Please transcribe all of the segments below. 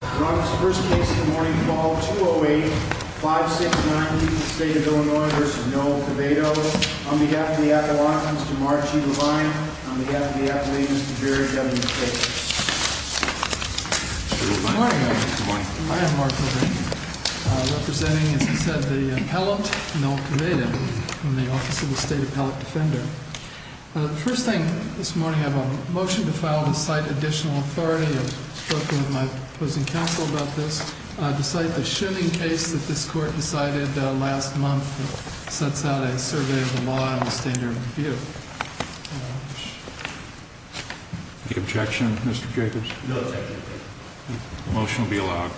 Ron, this is the first case of the morning, Fall 208-569, Utah State of Illinois v. Noel Quevedo. On behalf of the Appellate, Mr. Mark G. Levine. On behalf of the Appellate, Mr. Jerry W. Taylor. Good morning, everyone. I am Mark Levine, representing, as I said, the Appellant, Noel Quevedo, from the Office of the State Appellant Defender. The first thing this morning, I have a motion to file to cite additional authority. I spoke with my opposing counsel about this. To cite the shimming case that this Court decided last month that sets out a survey of the law in the standard review. Any objection, Mr. Jacobs? No objection. The motion will be allowed.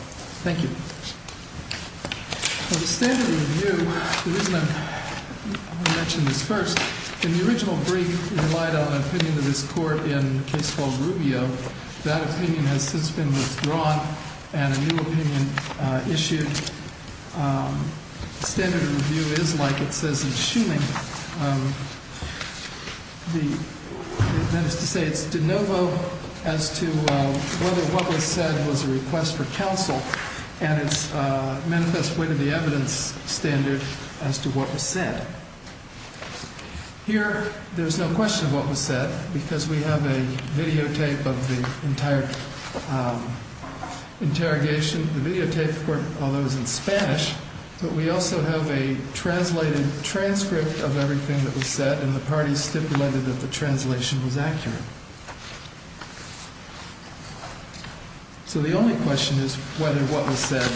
Thank you. For the standard review, the reason I mention this first, in the original brief we relied on an opinion of this Court in a case called Rubio. That opinion has since been withdrawn and a new opinion issued. Standard review is like it says in shimming. That is to say, it's de novo as to whether what was said was a request for counsel and it's a manifest way to the evidence standard as to what was said. Here, there's no question of what was said because we have a videotape of the entire interrogation. The videotape, although it was in Spanish, but we also have a translated transcript of everything that was said and the parties stipulated that the translation was accurate. So the only question is whether what was said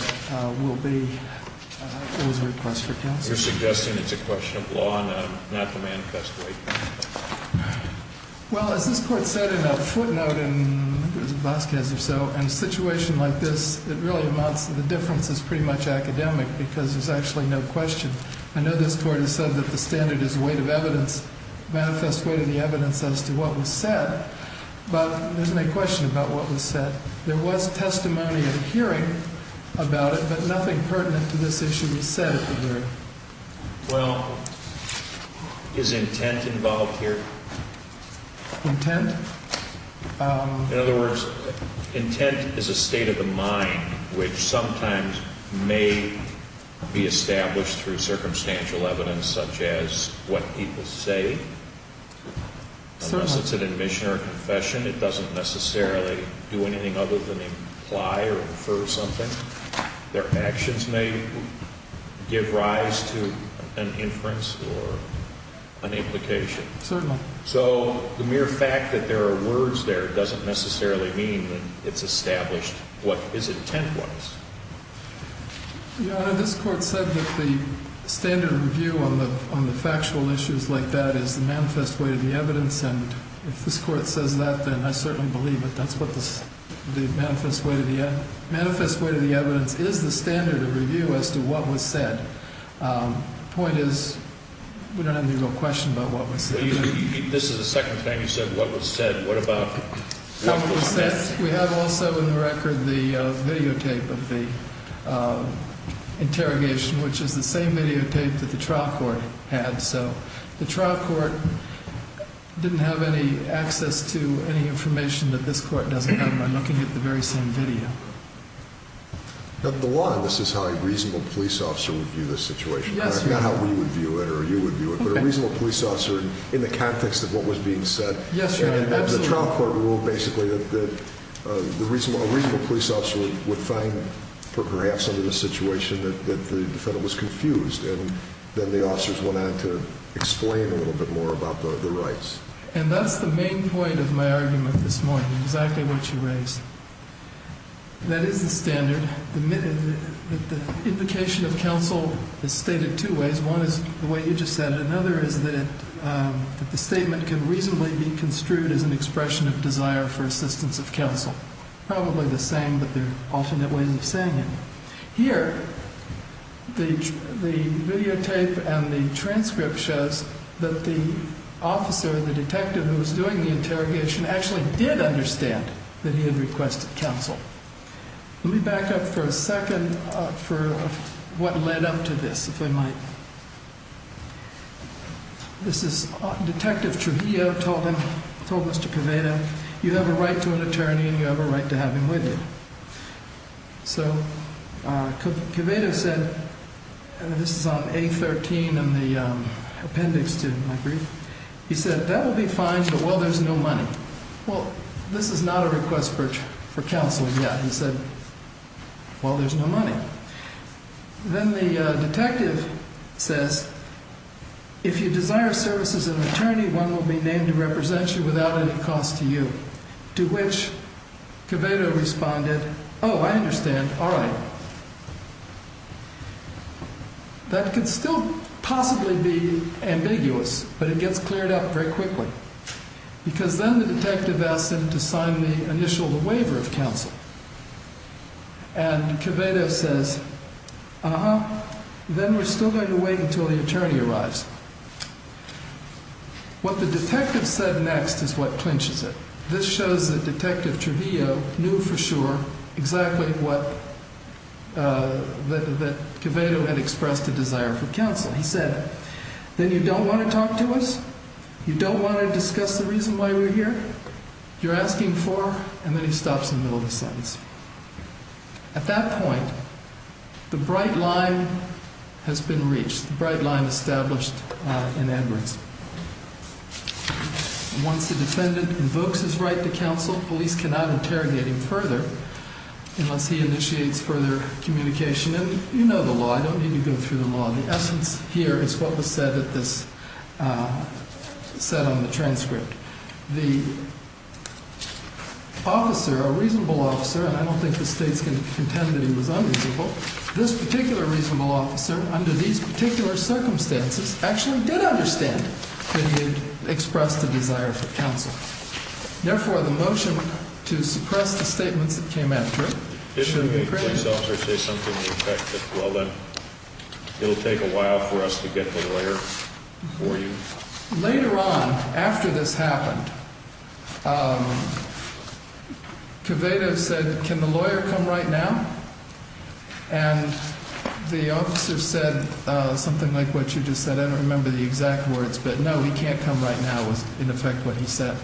will be a request for counsel. You're suggesting it's a question of law and not the manifest way. Well, as this Court said in a footnote in Vasquez or so, in a situation like this, it really amounts to the difference is pretty much academic because there's actually no question. I know this Court has said that the standard is a way to the evidence, manifest way to the evidence as to what was said, but there's no question about what was said. There was testimony and hearing about it, but nothing pertinent to this issue was said at the hearing. Well, is intent involved here? Intent? In other words, intent is a state of the mind which sometimes may be established through circumstantial evidence such as what people say. Unless it's an admission or a confession, it doesn't necessarily do anything other than imply or infer something. Their actions may give rise to an inference or an implication. Certainly. So the mere fact that there are words there doesn't necessarily mean that it's established what his intent was. Your Honor, this Court said that the standard review on the factual issues like that is the manifest way to the evidence, and if this Court says that, then I certainly believe it. That's what the manifest way to the evidence is, the standard of review as to what was said. The point is we don't have any real question about what was said. This is the second time you've said what was said. What about what was said? We have also in the record the videotape of the interrogation, which is the same videotape that the trial court had. So the trial court didn't have any access to any information that this Court doesn't have. I'm looking at the very same video. The law, this is how a reasonable police officer would view this situation. Not how we would view it or you would view it, but a reasonable police officer in the context of what was being said. Yes, Your Honor. The trial court ruled basically that a reasonable police officer would find perhaps under the situation that the defendant was confused, and then the officers went on to explain a little bit more about the rights. And that's the main point of my argument this morning, exactly what you raised. That is the standard. The implication of counsel is stated two ways. One is the way you just said it. Another is that the statement can reasonably be construed as an expression of desire for assistance of counsel. Probably the same, but there are alternate ways of saying it. Here, the videotape and the transcript shows that the officer, the detective who was doing the interrogation, actually did understand that he had requested counsel. Let me back up for a second for what led up to this, if I might. This is Detective Trujillo told Mr. Covado, you have a right to an attorney and you have a right to have him with you. So, Covado said, and this is on A13 in the appendix to my brief. He said, that will be fine, but, well, there's no money. Well, this is not a request for counsel yet. He said, well, there's no money. Then the detective says, if you desire services of an attorney, one will be named to represent you without any cost to you. To which, Covado responded, oh, I understand, all right. That could still possibly be ambiguous, but it gets cleared up very quickly. Because then the detective asked him to sign the initial waiver of counsel. And Covado says, uh-huh, then we're still going to wait until the attorney arrives. What the detective said next is what clinches it. This shows that Detective Trujillo knew for sure exactly what, that Covado had expressed a desire for counsel. He said, then you don't want to talk to us? You don't want to discuss the reason why we're here? You're asking for, and then he stops in the middle of the sentence. At that point, the bright line has been reached, the bright line established in Edwards. Once the defendant invokes his right to counsel, police cannot interrogate him further unless he initiates further communication. And you know the law. I don't need to go through the law. The essence here is what was said on the transcript. The officer, a reasonable officer, and I don't think the State's going to contend that he was unreasonable, this particular reasonable officer, under these particular circumstances, actually did understand that he had expressed a desire for counsel. Therefore, the motion to suppress the statements that came after it should be granted. If you make yourself or say something in effect that's well done, it'll take a while for us to get the lawyer for you. Later on, after this happened, Covado said, can the lawyer come right now? And the officer said something like what you just said. I don't remember the exact words, but no, he can't come right now was in effect what he said.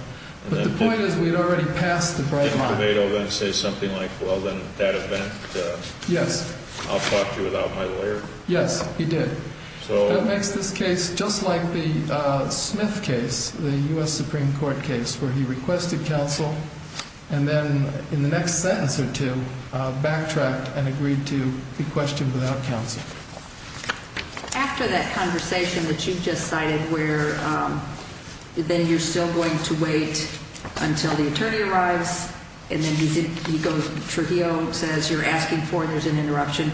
But the point is we'd already passed the bright line. Didn't Covado then say something like, well, then that event, I'll talk to you without my lawyer? Yes, he did. That makes this case just like the Smith case, the U.S. Supreme Court case, where he requested counsel, and then in the next sentence or two, backtracked and agreed to be questioned without counsel. After that conversation that you just cited where then you're still going to wait until the attorney arrives, and then he goes, Trujillo says you're asking for, there's an interruption.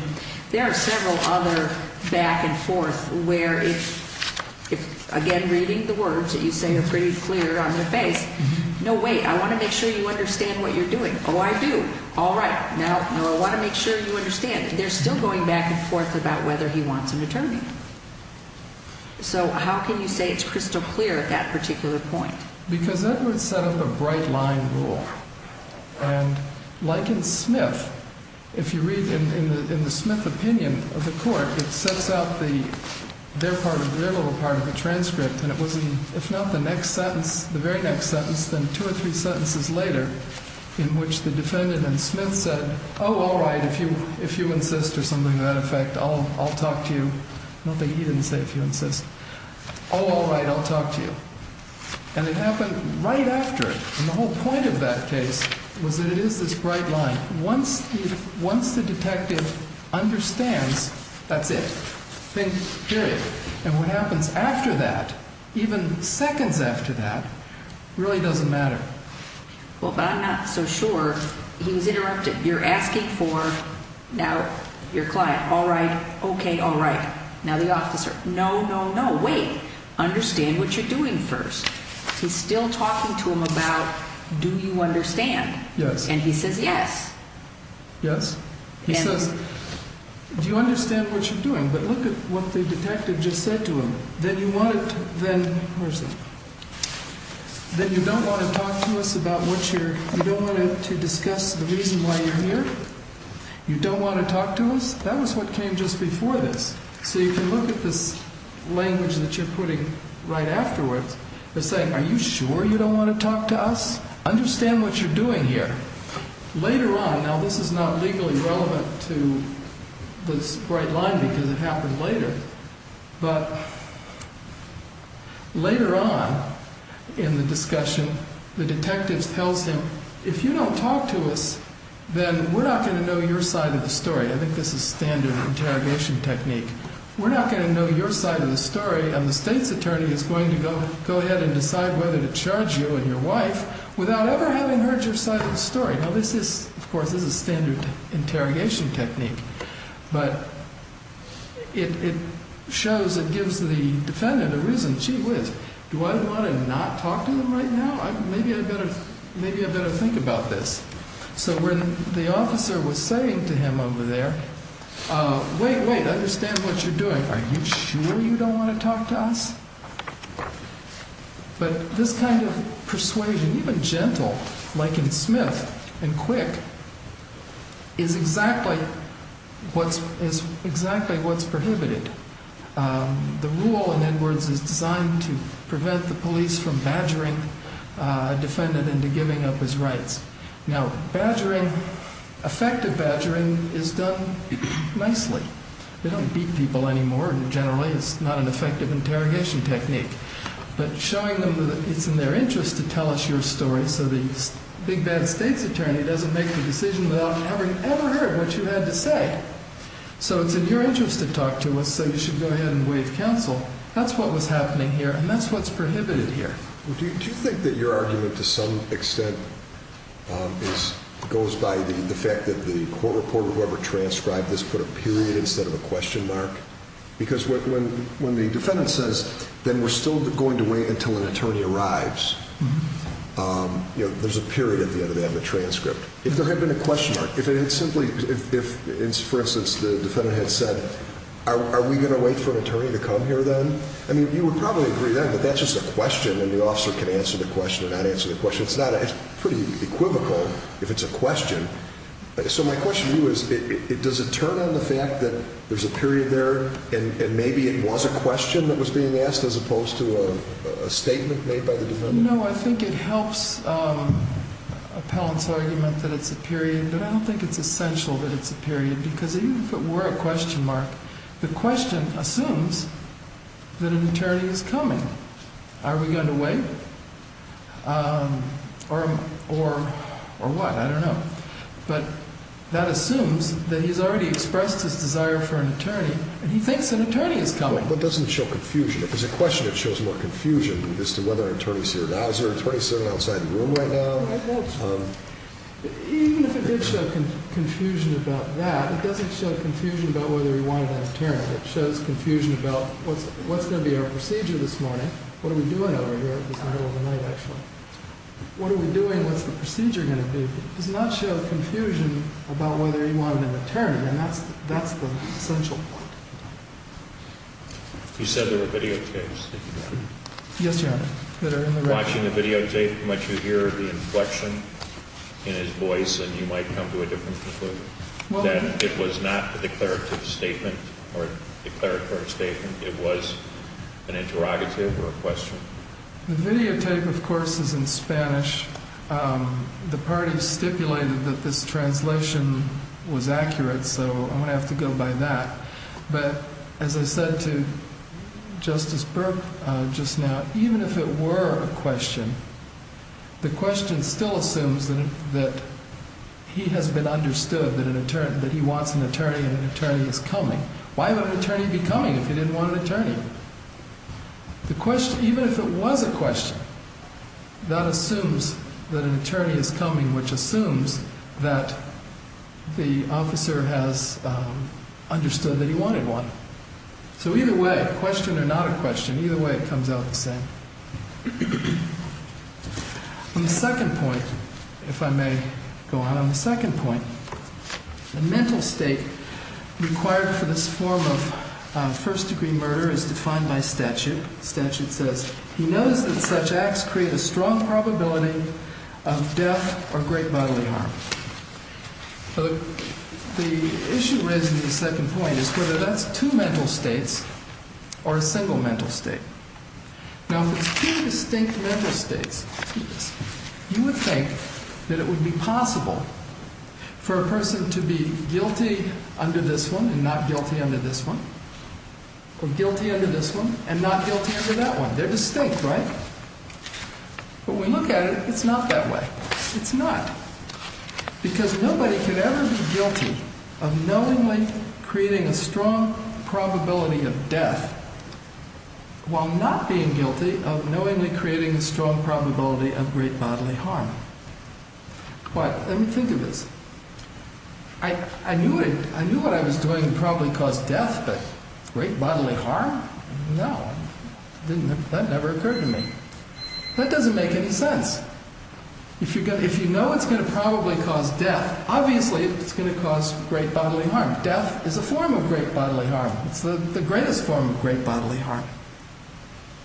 There are several other back and forth where if, again, reading the words that you say are pretty clear on their face, no, wait, I want to make sure you understand what you're doing. Oh, I do. All right. No, no, I want to make sure you understand. They're still going back and forth about whether he wants an attorney. So how can you say it's crystal clear at that particular point? Because Edwards set up a bright line rule, and like in Smith, if you read in the Smith opinion of the court, it sets out their little part of the transcript, and it was in, if not the next sentence, the very next sentence, then two or three sentences later in which the defendant in Smith said, oh, all right, if you insist or something to that effect, I'll talk to you. I don't think he didn't say if you insist. Oh, all right, I'll talk to you. And it happened right after. And the whole point of that case was that it is this bright line. Once the detective understands, that's it. Think period. And what happens after that, even seconds after that, really doesn't matter. Well, but I'm not so sure. He was interrupted. You're asking for now your client. All right. Okay, all right. Now the officer. No, no, no. Wait. Understand what you're doing first. He's still talking to him about do you understand. Yes. And he says yes. Yes. He says, do you understand what you're doing? But look at what the detective just said to him. Then you want it. Then then you don't want to talk to us about what you're you don't want to discuss the reason why you're here. You don't want to talk to us. That was what came just before this. So you can look at this language that you're putting right afterwards. They're saying, are you sure you don't want to talk to us? Understand what you're doing here. Later on. Now, this is not legally relevant to this bright line because it happened later. But later on in the discussion, the detectives tells him, if you don't talk to us, then we're not going to know your side of the story. I think this is standard interrogation technique. We're not going to know your side of the story. And the state's attorney is going to go ahead and decide whether to charge you and your wife without ever having heard your side of the story. Now, this is, of course, is a standard interrogation technique, but it shows it gives the defendant a reason. Gee whiz, do I want to not talk to them right now? Maybe I better. Maybe I better think about this. So when the officer was saying to him over there, wait, wait, understand what you're doing. Are you sure you don't want to talk to us? But this kind of persuasion, even gentle, like in Smith and Quick, is exactly what's prohibited. The rule in Edwards is designed to prevent the police from badgering a defendant into giving up his rights. Now, badgering, effective badgering, is done nicely. We don't beat people anymore. Generally, it's not an effective interrogation technique. But showing them that it's in their interest to tell us your story so the big bad state's attorney doesn't make the decision without having ever heard what you had to say. So it's in your interest to talk to us, so you should go ahead and waive counsel. That's what was happening here, and that's what's prohibited here. Do you think that your argument, to some extent, goes by the fact that the court reporter, whoever transcribed this, put a period instead of a question mark? Because when the defendant says, then we're still going to wait until an attorney arrives, there's a period at the end of that in the transcript. If there had been a question mark, if it had simply, if, for instance, the defendant had said, are we going to wait for an attorney to come here then? I mean, you would probably agree then that that's just a question, and the officer can answer the question or not answer the question. It's pretty equivocal if it's a question. So my question to you is, does it turn on the fact that there's a period there, and maybe it was a question that was being asked as opposed to a statement made by the defendant? No, I think it helps Appellant's argument that it's a period, but I don't think it's essential that it's a period. Because even if it were a question mark, the question assumes that an attorney is coming. Are we going to wait? Or what? I don't know. But that assumes that he's already expressed his desire for an attorney, and he thinks an attorney is coming. But doesn't it show confusion? If it's a question, it shows more confusion as to whether an attorney's here now. Is there an attorney sitting outside the room right now? I don't know. Even if it did show confusion about that, it doesn't show confusion about whether he wanted an attorney. It shows confusion about what's going to be our procedure this morning. What are we doing over here? It's the middle of the night, actually. What are we doing? What's the procedure going to be? It does not show confusion about whether he wanted an attorney, and that's the essential point. You said there were video tapes that you have. Yes, Your Honor, that are in the record. If you're watching the video tape, you might hear the inflection in his voice, and you might come to a different conclusion, that it was not a declarative statement or declaratory statement. It was an interrogative or a question. The videotape, of course, is in Spanish. The parties stipulated that this translation was accurate, so I'm going to have to go by that. As I said to Justice Burke just now, even if it were a question, the question still assumes that he has been understood, that he wants an attorney and an attorney is coming. Why would an attorney be coming if he didn't want an attorney? The question, even if it was a question, that assumes that an attorney is coming, which assumes that the officer has understood that he wanted one. So either way, question or not a question, either way it comes out the same. On the second point, if I may go on. On the second point, the mental state required for this form of first-degree murder is defined by statute. Statute says, he knows that such acts create a strong probability of death or great bodily harm. The issue raised in the second point is whether that's two mental states or a single mental state. Now if it's two distinct mental states, you would think that it would be possible for a person to be guilty under this one and not guilty under this one, or guilty under this one and not guilty under that one. They're distinct, right? But when we look at it, it's not that way. It's not, because nobody could ever be guilty of knowingly creating a strong probability of death while not being guilty of knowingly creating a strong probability of great bodily harm. Why? Let me think of this. I knew what I was doing would probably cause death, but great bodily harm? No, that never occurred to me. That doesn't make any sense. If you know it's going to probably cause death, obviously it's going to cause great bodily harm. Death is a form of great bodily harm. It's the greatest form of great bodily harm.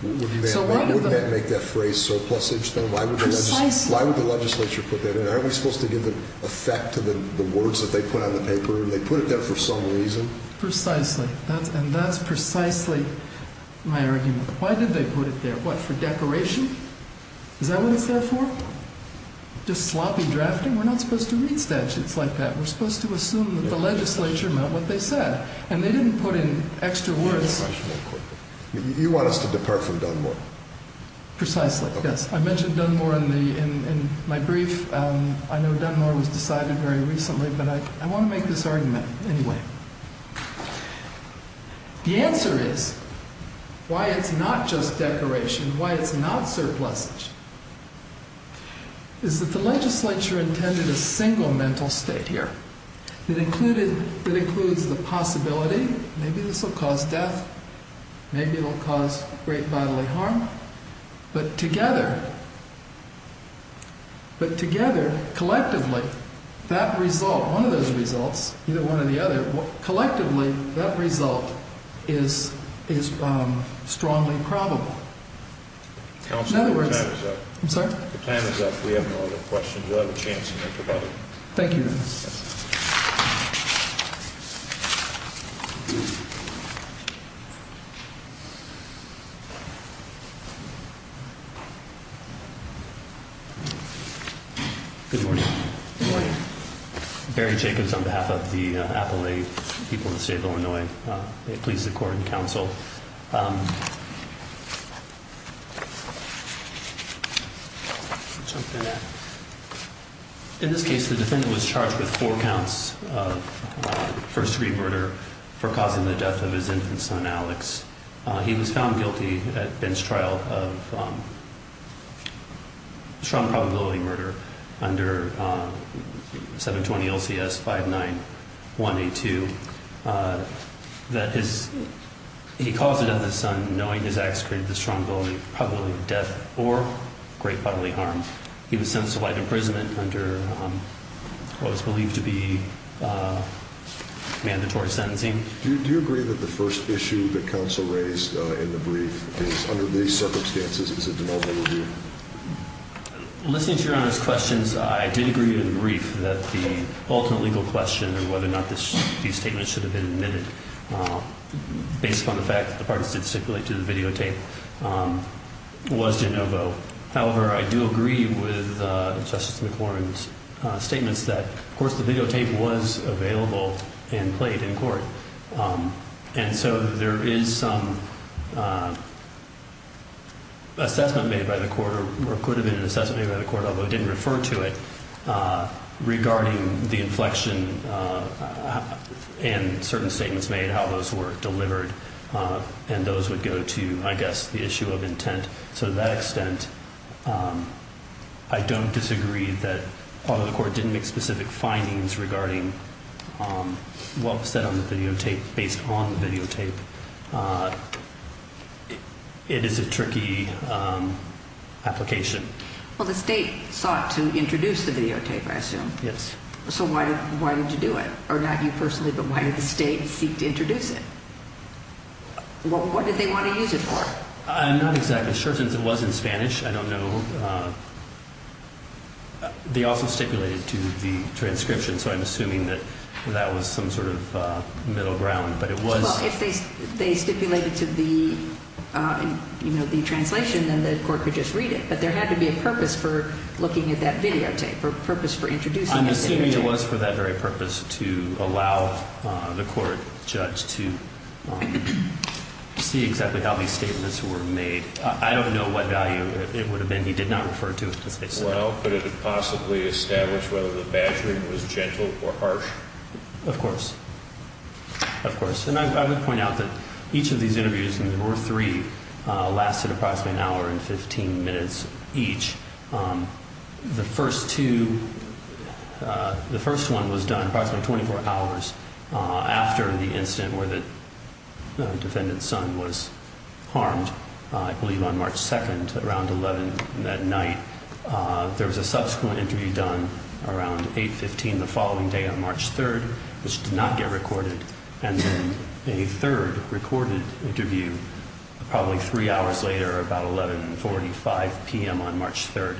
Wouldn't that make that phrase surplusage, then? Precisely. Why would the legislature put that in? Aren't we supposed to give effect to the words that they put on the paper? They put it there for some reason. Precisely. And that's precisely my argument. Why did they put it there? What, for decoration? Is that what it's there for? Just sloppy drafting? We're not supposed to read statutes like that. We're supposed to assume that the legislature meant what they said. And they didn't put in extra words. You want us to depart from Dunmore? Precisely, yes. I mentioned Dunmore in my brief. I know Dunmore was decided very recently, but I want to make this argument anyway. The answer is, why it's not just decoration, why it's not surplusage, is that the legislature intended a single mental state here that includes the possibility, maybe this will cause death, maybe it will cause great bodily harm, but together, collectively, that result, one of those results, either one or the other, collectively, that result is strongly probable. Counsel, your time is up. I'm sorry? Your time is up. We have no other questions. You'll have a chance to make a comment. Thank you, Your Honor. Good morning. Good morning. Barry Jacobs on behalf of the Appalachian people of the state of Illinois. Please support and counsel. In this case, the defendant was charged with four counts of first-degree murder for causing the death of his infant son, Alex. He was found guilty at bench trial of strong probability murder under 720 LCS 59182. He caused the death of his son knowing his acts created the strong probability of death or great bodily harm. He was sentenced to life imprisonment under what was believed to be mandatory sentencing. Do you agree that the first issue that counsel raised in the brief is, under these circumstances, is a de novo review? Listening to Your Honor's questions, I did agree in the brief that the ultimate legal question of whether or not these statements should have been admitted, based upon the fact that the parties did stipulate to the videotape, was de novo. However, I do agree with Justice McLaurin's statements that, of course, the videotape was available and played in court. And so there is some assessment made by the court, or could have been an assessment made by the court, although it didn't refer to it, regarding the inflection and certain statements made, how those were delivered, and those would go to, I guess, the issue of intent. So to that extent, I don't disagree that, although the court didn't make specific findings regarding what was said on the videotape based on the videotape, it is a tricky application. Well, the state sought to introduce the videotape, I assume. Yes. So why did you do it? Or not you personally, but why did the state seek to introduce it? What did they want to use it for? I'm not exactly sure since it was in Spanish. I don't know. They also stipulated to the transcription, so I'm assuming that that was some sort of middle ground. Well, if they stipulated to the translation, then the court could just read it. But there had to be a purpose for looking at that videotape, a purpose for introducing that videotape. I'm assuming it was for that very purpose, to allow the court judge to see exactly how these statements were made. I don't know what value it would have been if he did not refer to it specifically. Well, but it would possibly establish whether the badgering was gentle or harsh. Of course. Of course. And I would point out that each of these interviews, and there were three, lasted approximately an hour and 15 minutes each. The first one was done approximately 24 hours after the incident where the defendant's son was harmed, I believe on March 2nd, around 11 at night. There was a subsequent interview done around 8.15 the following day on March 3rd, which did not get recorded. And then a third recorded interview, probably three hours later, about 11.45 p.m. on March 3rd.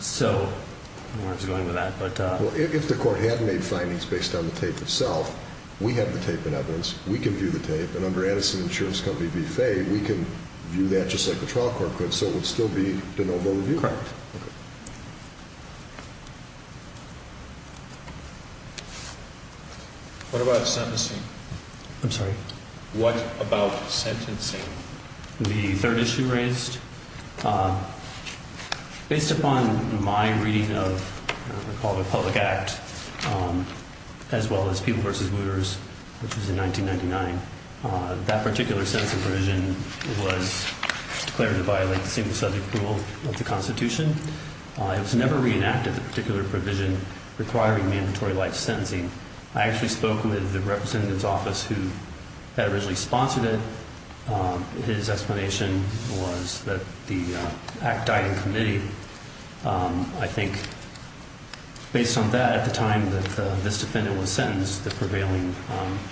So I don't know where I was going with that. Well, if the court had made findings based on the tape itself, we have the tape in evidence. We can view the tape. And under Edison Insurance Company v. Fay, we can view that just like the trial court could. So it would still be de novo review. Correct. Okay. What about sentencing? I'm sorry? What about sentencing? The third issue raised. Based upon my reading of what I call the Public Act, as well as People v. Wooters, which was in 1999, that particular sentencing provision was declared to violate the single-subject rule of the Constitution. It was never reenacted, the particular provision requiring mandatory life sentencing. I actually spoke with the representative's office who had originally sponsored it. His explanation was that the act died in committee. I think based on that, at the time that this defendant was sentenced, the prevailing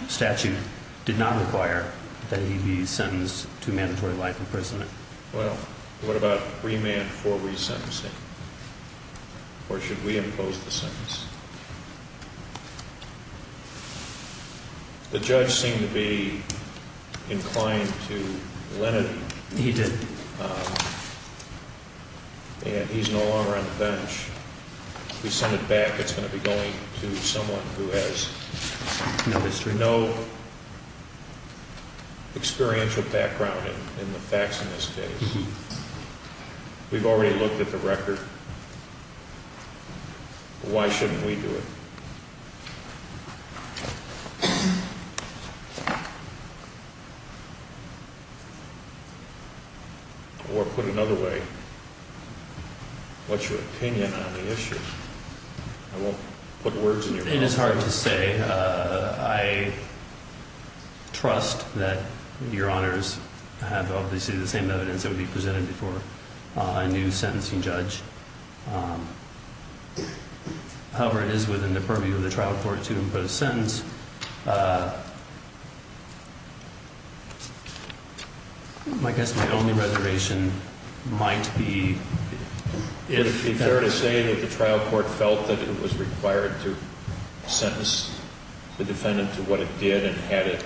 statute did not require that he be sentenced to mandatory life imprisonment. Well, what about remand for resentencing? Or should we impose the sentence? The judge seemed to be inclined to let it be. He's no longer on the bench. If we send it back, it's going to be going to someone who has no experiential background in the facts in this case. We've already looked at the record. Why shouldn't we do it? Or put another way, what's your opinion on the issue? I won't put words in your mouth. It is hard to say. I trust that Your Honors have obviously the same evidence that would be presented before a new sentencing judge. However, it is within the purview of the trial court to impose a sentence. I guess my only reservation might be... Is it fair to say that the trial court felt that it was required to sentence the defendant to what it did? And had it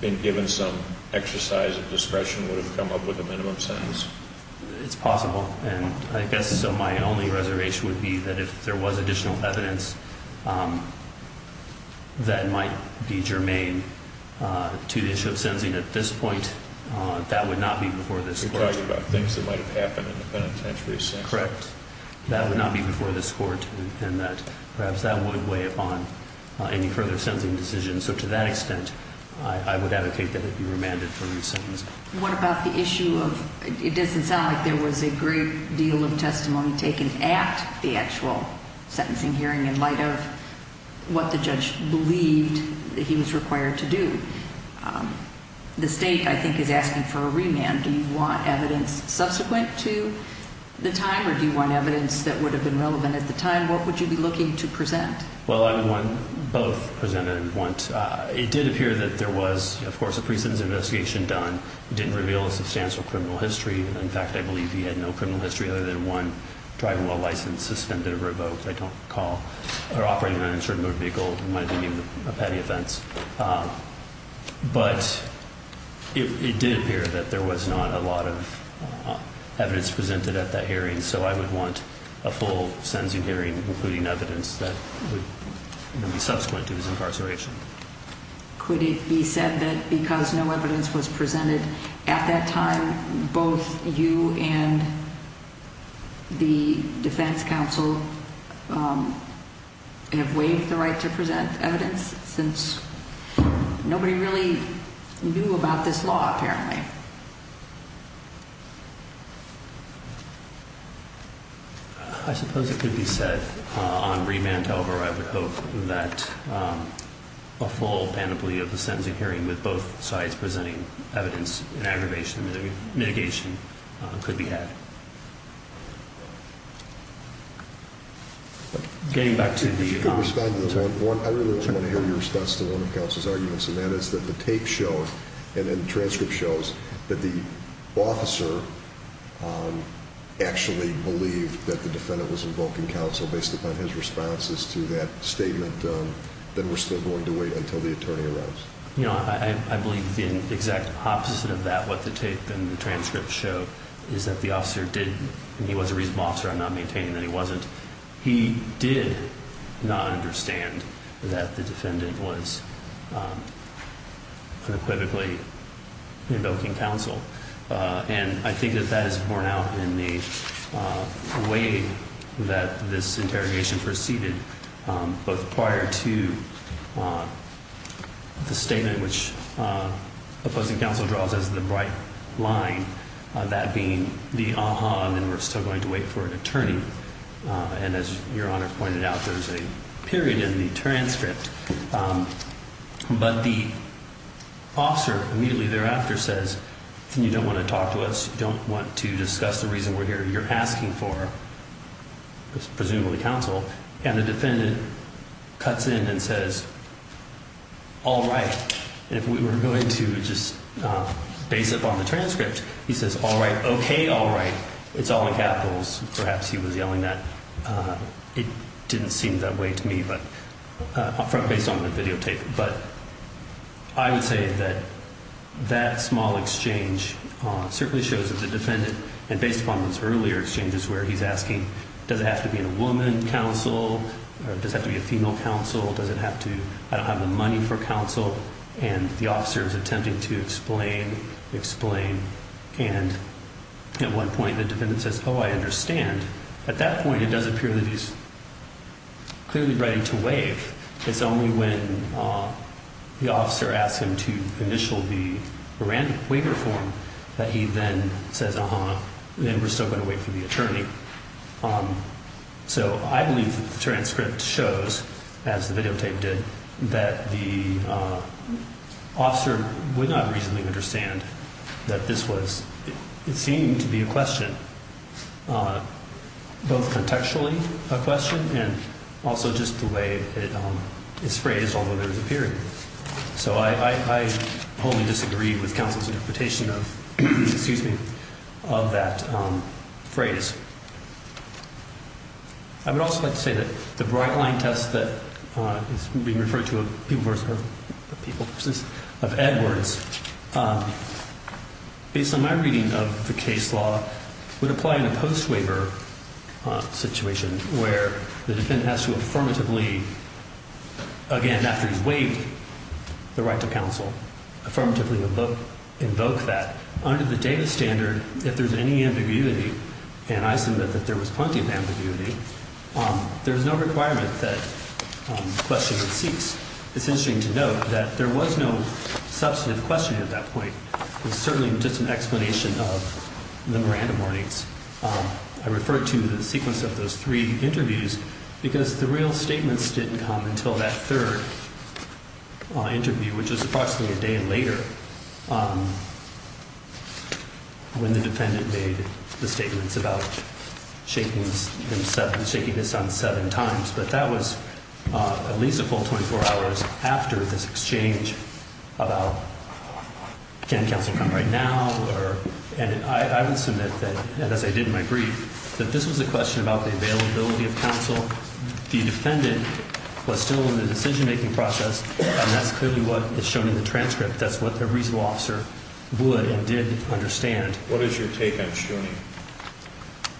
been given some exercise of discretion, would it have come up with a minimum sentence? It's possible. And I guess my only reservation would be that if there was additional evidence that might be germane to the issue of sentencing at this point, that would not be before this court. You're talking about things that might have happened in the penitentiary session. Correct. That would not be before this court, and perhaps that would weigh upon any further sentencing decisions. So to that extent, I would advocate that it be remanded for resentencing. What about the issue of... It doesn't sound like there was a great deal of testimony taken at the actual sentencing hearing in light of what the judge believed that he was required to do. The state, I think, is asking for a remand. Do you want evidence subsequent to the time, or do you want evidence that would have been relevant at the time? What would you be looking to present? Well, I would want both presented at once. It did appear that there was, of course, a precedence investigation done. It didn't reveal a substantial criminal history. In fact, I believe he had no criminal history other than one driving while licensed, suspended, or revoked. I don't recall. Or operating an uninsured motor vehicle might be a petty offense. But it did appear that there was not a lot of evidence presented at that hearing. And so I would want a full sentencing hearing, including evidence that would be subsequent to his incarceration. Could it be said that because no evidence was presented at that time, both you and the defense counsel have waived the right to present evidence since nobody really knew about this law, apparently? I suppose it could be said on remand, however. I would hope that a full panoply of the sentencing hearing with both sides presenting evidence in aggravation and mitigation could be had. Getting back to the- I really just want to hear your response to one of the counsel's arguments. And that is that the tape shows and the transcript shows that the officer actually believed that the defendant was invoking counsel based upon his responses to that statement. Then we're still going to wait until the attorney arrives. You know, I believe the exact opposite of that, what the tape and the transcript show, is that the officer did- and he was a reasonable officer. I'm not maintaining that he wasn't. He did not understand that the defendant was unequivocally invoking counsel. And I think that that is borne out in the way that this interrogation proceeded, both prior to the statement, which opposing counsel draws as the bright line, that being the aha, and then we're still going to wait for an attorney. And as Your Honor pointed out, there's a period in the transcript. But the officer immediately thereafter says, you don't want to talk to us. You don't want to discuss the reason we're here. You're asking for, presumably, counsel. And the defendant cuts in and says, all right. And if we were going to just base it upon the transcript, he says, all right. OK, all right. It's all in capitals. Perhaps he was yelling that. It didn't seem that way to me, based on the videotape. But I would say that that small exchange certainly shows that the defendant, and based upon those earlier exchanges where he's asking, does it have to be a woman counsel? Does it have to be a female counsel? Does it have to- I don't have the money for counsel. And the officer is attempting to explain, explain. And at one point, the defendant says, oh, I understand. At that point, it does appear that he's clearly ready to waive. It's only when the officer asks him to initial the waiver form that he then says, uh-huh, and we're still going to wait for the attorney. So I believe that the transcript shows, as the videotape did, that the officer would not reasonably understand that this was, it seemed to be a question, both contextually a question and also just the way it's phrased, although there's a period. So I wholly disagree with counsel's interpretation of, excuse me, of that phrase. I would also like to say that the bright-line test that is being referred to of Edwards, based on my reading of the case law, would apply in a post-waiver situation where the defendant has to affirmatively, again, after he's waived the right to counsel. Affirmatively invoke that. Under the data standard, if there's any ambiguity, and I submit that there was plenty of ambiguity, there's no requirement that questioning cease. It's interesting to note that there was no substantive questioning at that point. It was certainly just an explanation of memorandum warnings. I refer to the sequence of those three interviews because the real statements didn't come until that third interview, which was approximately a day later, when the defendant made the statements about shaking this on seven times. But that was at least a full 24 hours after this exchange about, can counsel come right now? And I would submit that, as I did in my brief, that this was a question about the availability of counsel. The defendant was still in the decision-making process, and that's clearly what is shown in the transcript. That's what the reasonable officer would and did understand. What is your take, Mr. Stoney?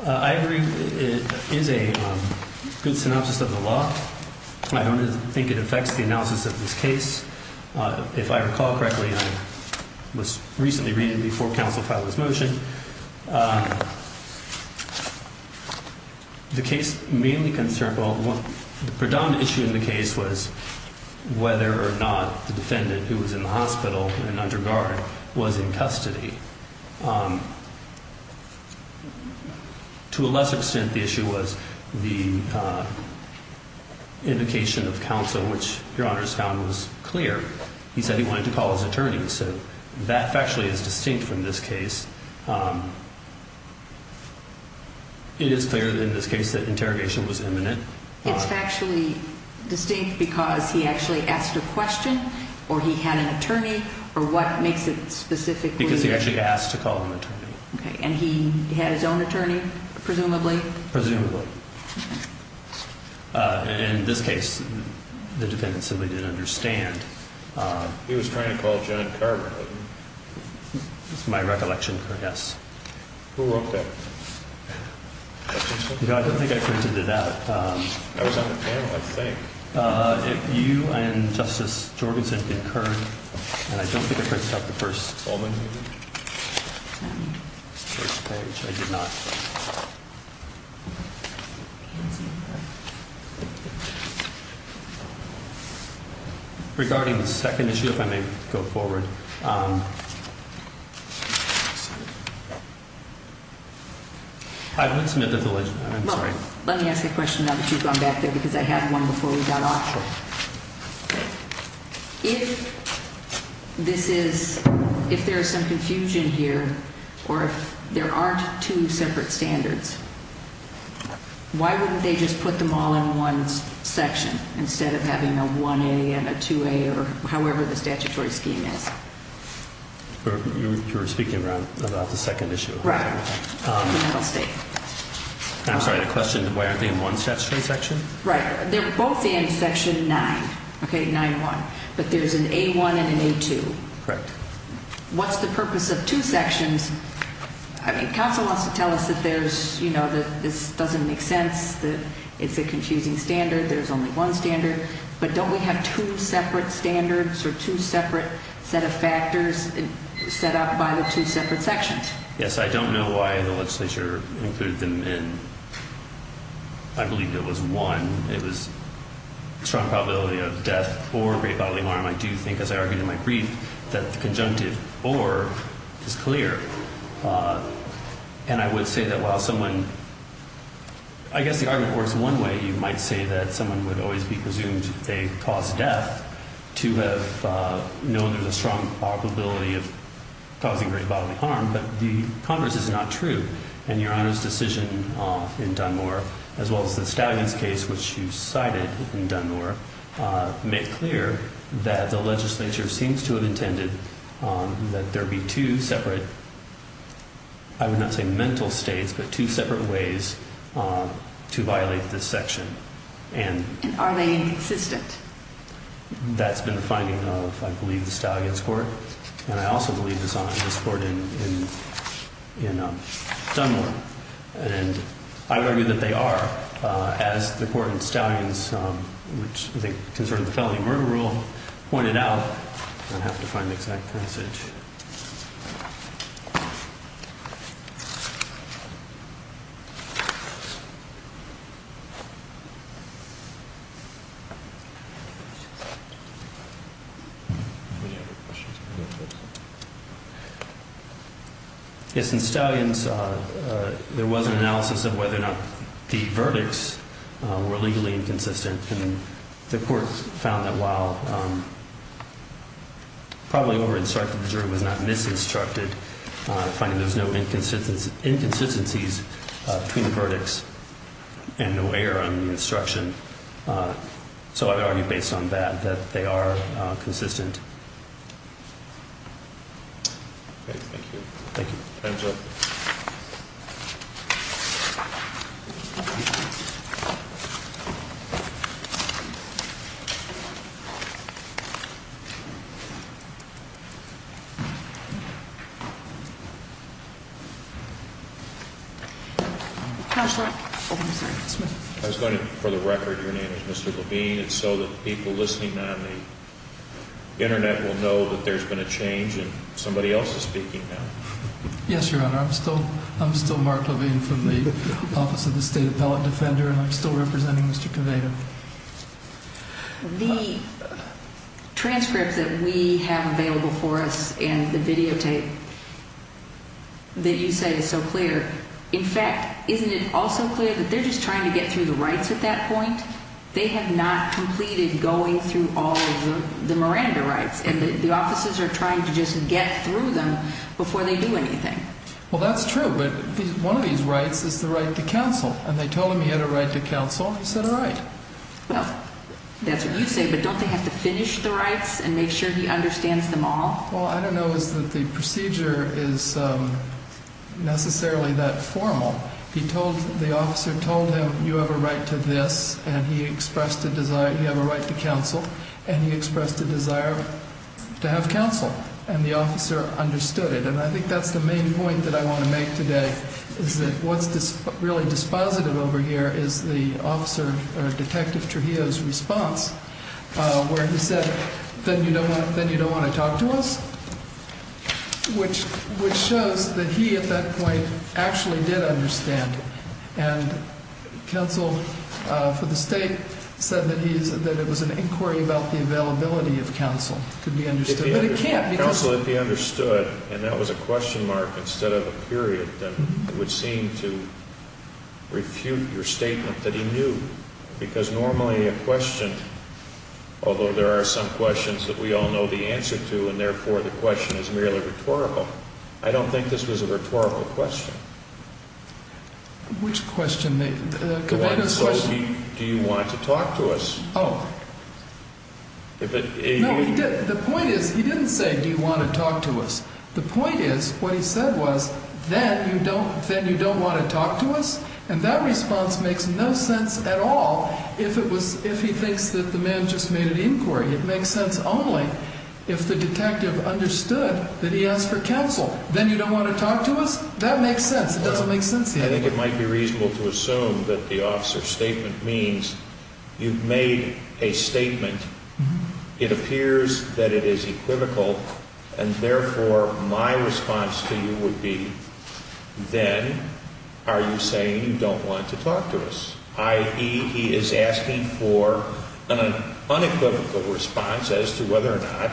I agree it is a good synopsis of the law. I don't think it affects the analysis of this case. If I recall correctly, it was recently read before counsel filed this motion. The case mainly concerned about the predominant issue in the case was whether or not the defendant, who was in the hospital and under guard, was in custody. To a lesser extent, the issue was the indication of counsel, which your Honor has found was clear. He said he wanted to call his attorney, so that factually is distinct from this case. It is clear in this case that interrogation was imminent. It's factually distinct because he actually asked a question, or he had an attorney, or what makes it specific? Because he actually asked to call an attorney. And he had his own attorney, presumably? Presumably. In this case, the defendant simply didn't understand. He was trying to call John Carver, wasn't he? That's my recollection, yes. Who wrote that? I don't think I printed it out. That was on the panel, I think. If you and Justice Jorgensen concurred, and I don't think I printed out the first solving, regarding the second issue, if I may go forward. Let me ask a question now that you've gone back there, because I had one before we got off. If there is some confusion here, or if there aren't two separate standards, why wouldn't they just put them all in one section, instead of having a 1A and a 2A, or however the statutory scheme is? You're speaking about the second issue. Right. I'll stay. I'm sorry, the question, why aren't they in one statutory section? Right. They're both in section 9, okay, 9-1. But there's an A-1 and an A-2. Correct. What's the purpose of two sections? I mean, counsel wants to tell us that there's, you know, that this doesn't make sense, that it's a confusing standard, there's only one standard. But don't we have two separate standards, or two separate set of factors set up by the two separate sections? Yes, I don't know why the legislature included them in. I believe it was one. It was strong probability of death or great bodily harm. I do think, as I argued in my brief, that the conjunctive or is clear. And I would say that while someone, I guess the argument works one way, you might say that someone would always be presumed they caused death to have known there's a strong probability of causing great bodily harm, but the converse is not true. And your Honor's decision in Dunmore, as well as the Stallions case, which you cited in Dunmore, make clear that the legislature seems to have intended that there be two separate, I would not say mental states, but two separate ways to violate this section. And are they inconsistent? That's been a finding of, I believe, the Stallions court. And I also believe this on this court in Dunmore. And I would argue that they are, as the court in Stallions, which I think concerned the felony murder rule, pointed out. I don't have to find the exact passage. Any other questions? Yes, in Stallions, there was an analysis of whether or not the verdicts were legally inconsistent. And the court found that while probably over-instructed, the jury was not mis-instructed, finding there's no inconsistencies between the verdicts and no error on the instruction. So I would argue, based on that, that they are consistent. Thank you. Time's up. I was going to, for the record, your name is Mr. Levine. It's so that people listening on the Internet will know that there's been a change and somebody else is speaking now. Yes, Your Honor, I'm still Mark Levine from the Office of the State Appellate Defender, and I'm still representing Mr. Caveda. The transcript that we have available for us and the videotape that you say is so clear, in fact, isn't it also clear that they're just trying to get through the rights at that point? They have not completed going through all of the Miranda rights, and the officers are trying to just get through them before they do anything. Well, that's true, but one of these rights is the right to counsel, and they told him he had a right to counsel, and he said all right. Well, that's what you say, but don't they have to finish the rights and make sure he understands them all? Well, I don't know that the procedure is necessarily that formal. The officer told him you have a right to this, and he expressed a desire, you have a right to counsel, and he expressed a desire to have counsel, and the officer understood it. And I think that's the main point that I want to make today, is that what's really dispositive over here is the detective Trujillo's response, where he said, then you don't want to talk to us? Which shows that he, at that point, actually did understand, and counsel for the state said that it was an inquiry about the availability of counsel. Counsel, if he understood, and that was a question mark instead of a period, then it would seem to refute your statement that he knew, because normally a question, although there are some questions that we all know the answer to, and therefore the question is merely rhetorical, I don't think this was a rhetorical question. Which question? Do you want to talk to us? Oh. No, he didn't. The point is, he didn't say, do you want to talk to us? The point is, what he said was, then you don't want to talk to us? And that response makes no sense at all if he thinks that the man just made an inquiry. It makes sense only if the detective understood that he asked for counsel. Then you don't want to talk to us? That makes sense. It doesn't make sense to him. I think it might be reasonable to assume that the officer's statement means you've made a statement, it appears that it is equivocal, and therefore my response to you would be, then are you saying you don't want to talk to us? I.e., he is asking for an unequivocal response as to whether or not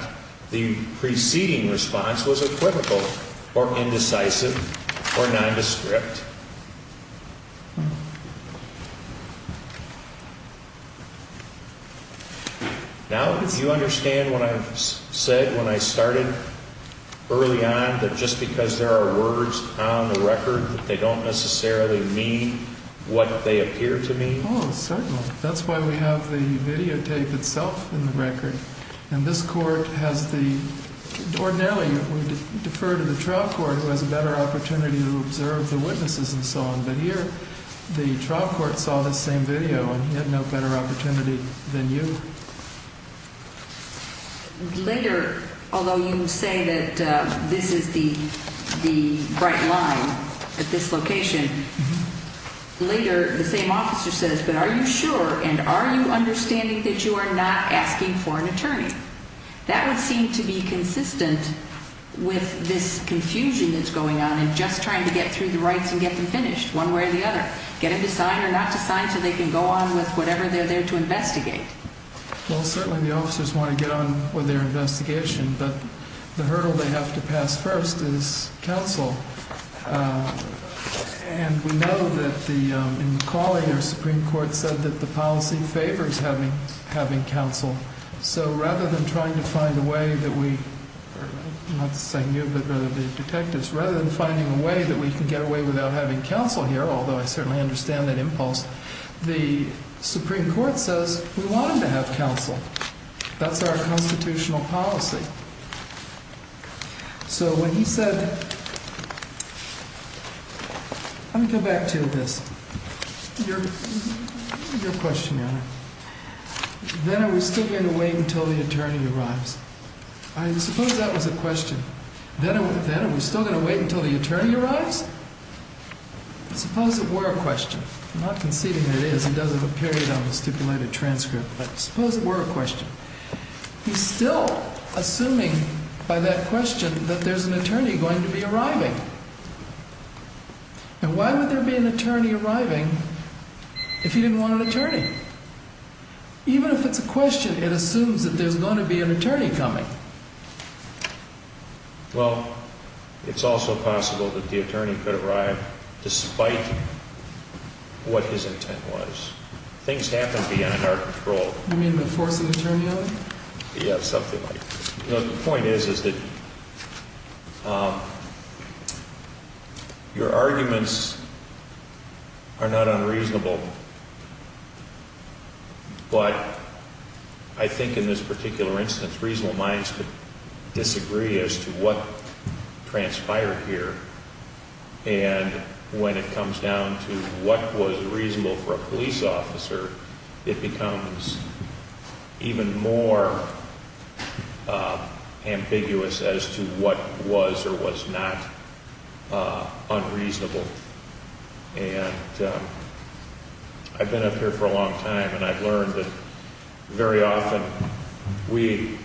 the preceding response was equivocal or indecisive or nondescript. Now, do you understand what I said when I started early on, that just because there are words on the record, they don't necessarily mean what they appear to mean? Oh, certainly. That's why we have the videotape itself in the record. And this court has the, ordinarily we defer to the trial court who has a better opportunity to observe the witnesses and so on, but here the trial court saw this same video and had no better opportunity than you. Later, although you say that this is the bright line at this location, later the same officer says, but are you sure and are you understanding that you are not asking for an attorney? That would seem to be consistent with this confusion that's going on in just trying to get through the rights and get them finished one way or the other. Get them to sign or not to sign so they can go on with whatever they're there to investigate. Well, certainly the officers want to get on with their investigation, but the hurdle they have to pass first is counsel. And we know that in the calling, our Supreme Court said that the policy favors having counsel. So rather than trying to find a way that we, not to say new, but rather detectives, rather than finding a way that we can get away without having counsel here, although I certainly understand that impulse, the Supreme Court says we want them to have counsel. That's our constitutional policy. So when he said, let me go back to this. Your question, Your Honor. Then are we still going to wait until the attorney arrives? I suppose that was a question. Then are we still going to wait until the attorney arrives? Suppose it were a question. I'm not conceding it is. It does have a period on the stipulated transcript. But suppose it were a question. He's still assuming by that question that there's an attorney going to be arriving. And why would there be an attorney arriving if he didn't want an attorney? Even if it's a question, it assumes that there's going to be an attorney coming. Well, it's also possible that the attorney could arrive despite what his intent was. Things happen beyond our control. You mean the force of the attorney on you? Yeah, something like that. The point is that your arguments are not unreasonable. But I think in this particular instance, reasonable minds could disagree as to what transpired here. And when it comes down to what was reasonable for a police officer, it becomes even more ambiguous as to what was or was not unreasonable. I've been up here for a long time, and I've learned that very often we,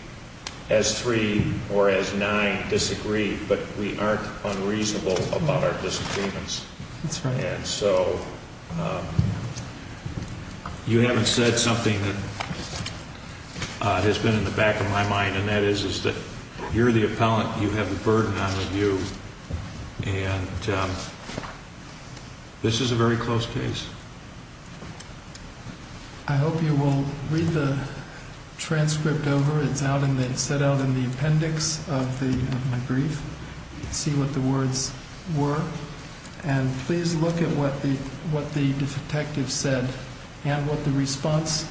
as three or as nine, disagree. But we aren't unreasonable about our disagreements. That's right. And so you haven't said something that has been in the back of my mind, and that is that you're the appellant. You have the burden on the view. And this is a very close case. I hope you will read the transcript over. It's set out in the appendix of my brief. See what the words were. And please look at what the detective said and what the response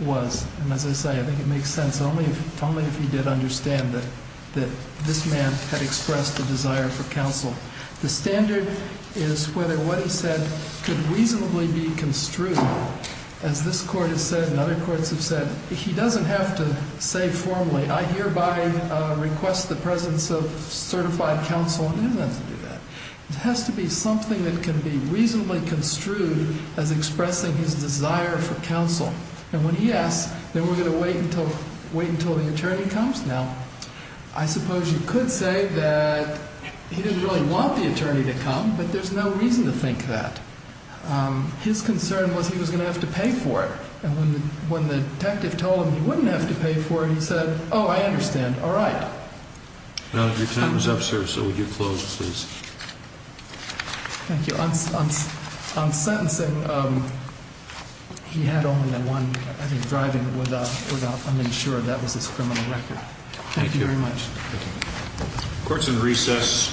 was. And as I say, I think it makes sense only if he did understand that this man had expressed a desire for counsel. The standard is whether what he said could reasonably be construed, as this Court has said and other courts have said, he doesn't have to say formally, I hereby request the presence of certified counsel, and he doesn't have to do that. It has to be something that can be reasonably construed as expressing his desire for counsel. And when he asks that we're going to wait until the attorney comes, now, I suppose you could say that he didn't really want the attorney to come, but there's no reason to think that. His concern was he was going to have to pay for it. And when the detective told him he wouldn't have to pay for it, he said, oh, I understand. All right. Your time is up, sir, so would you close, please? Thank you. On sentencing, he had only one driving without uninsured. That was his criminal record. Thank you very much. Thank you. Court's in recess.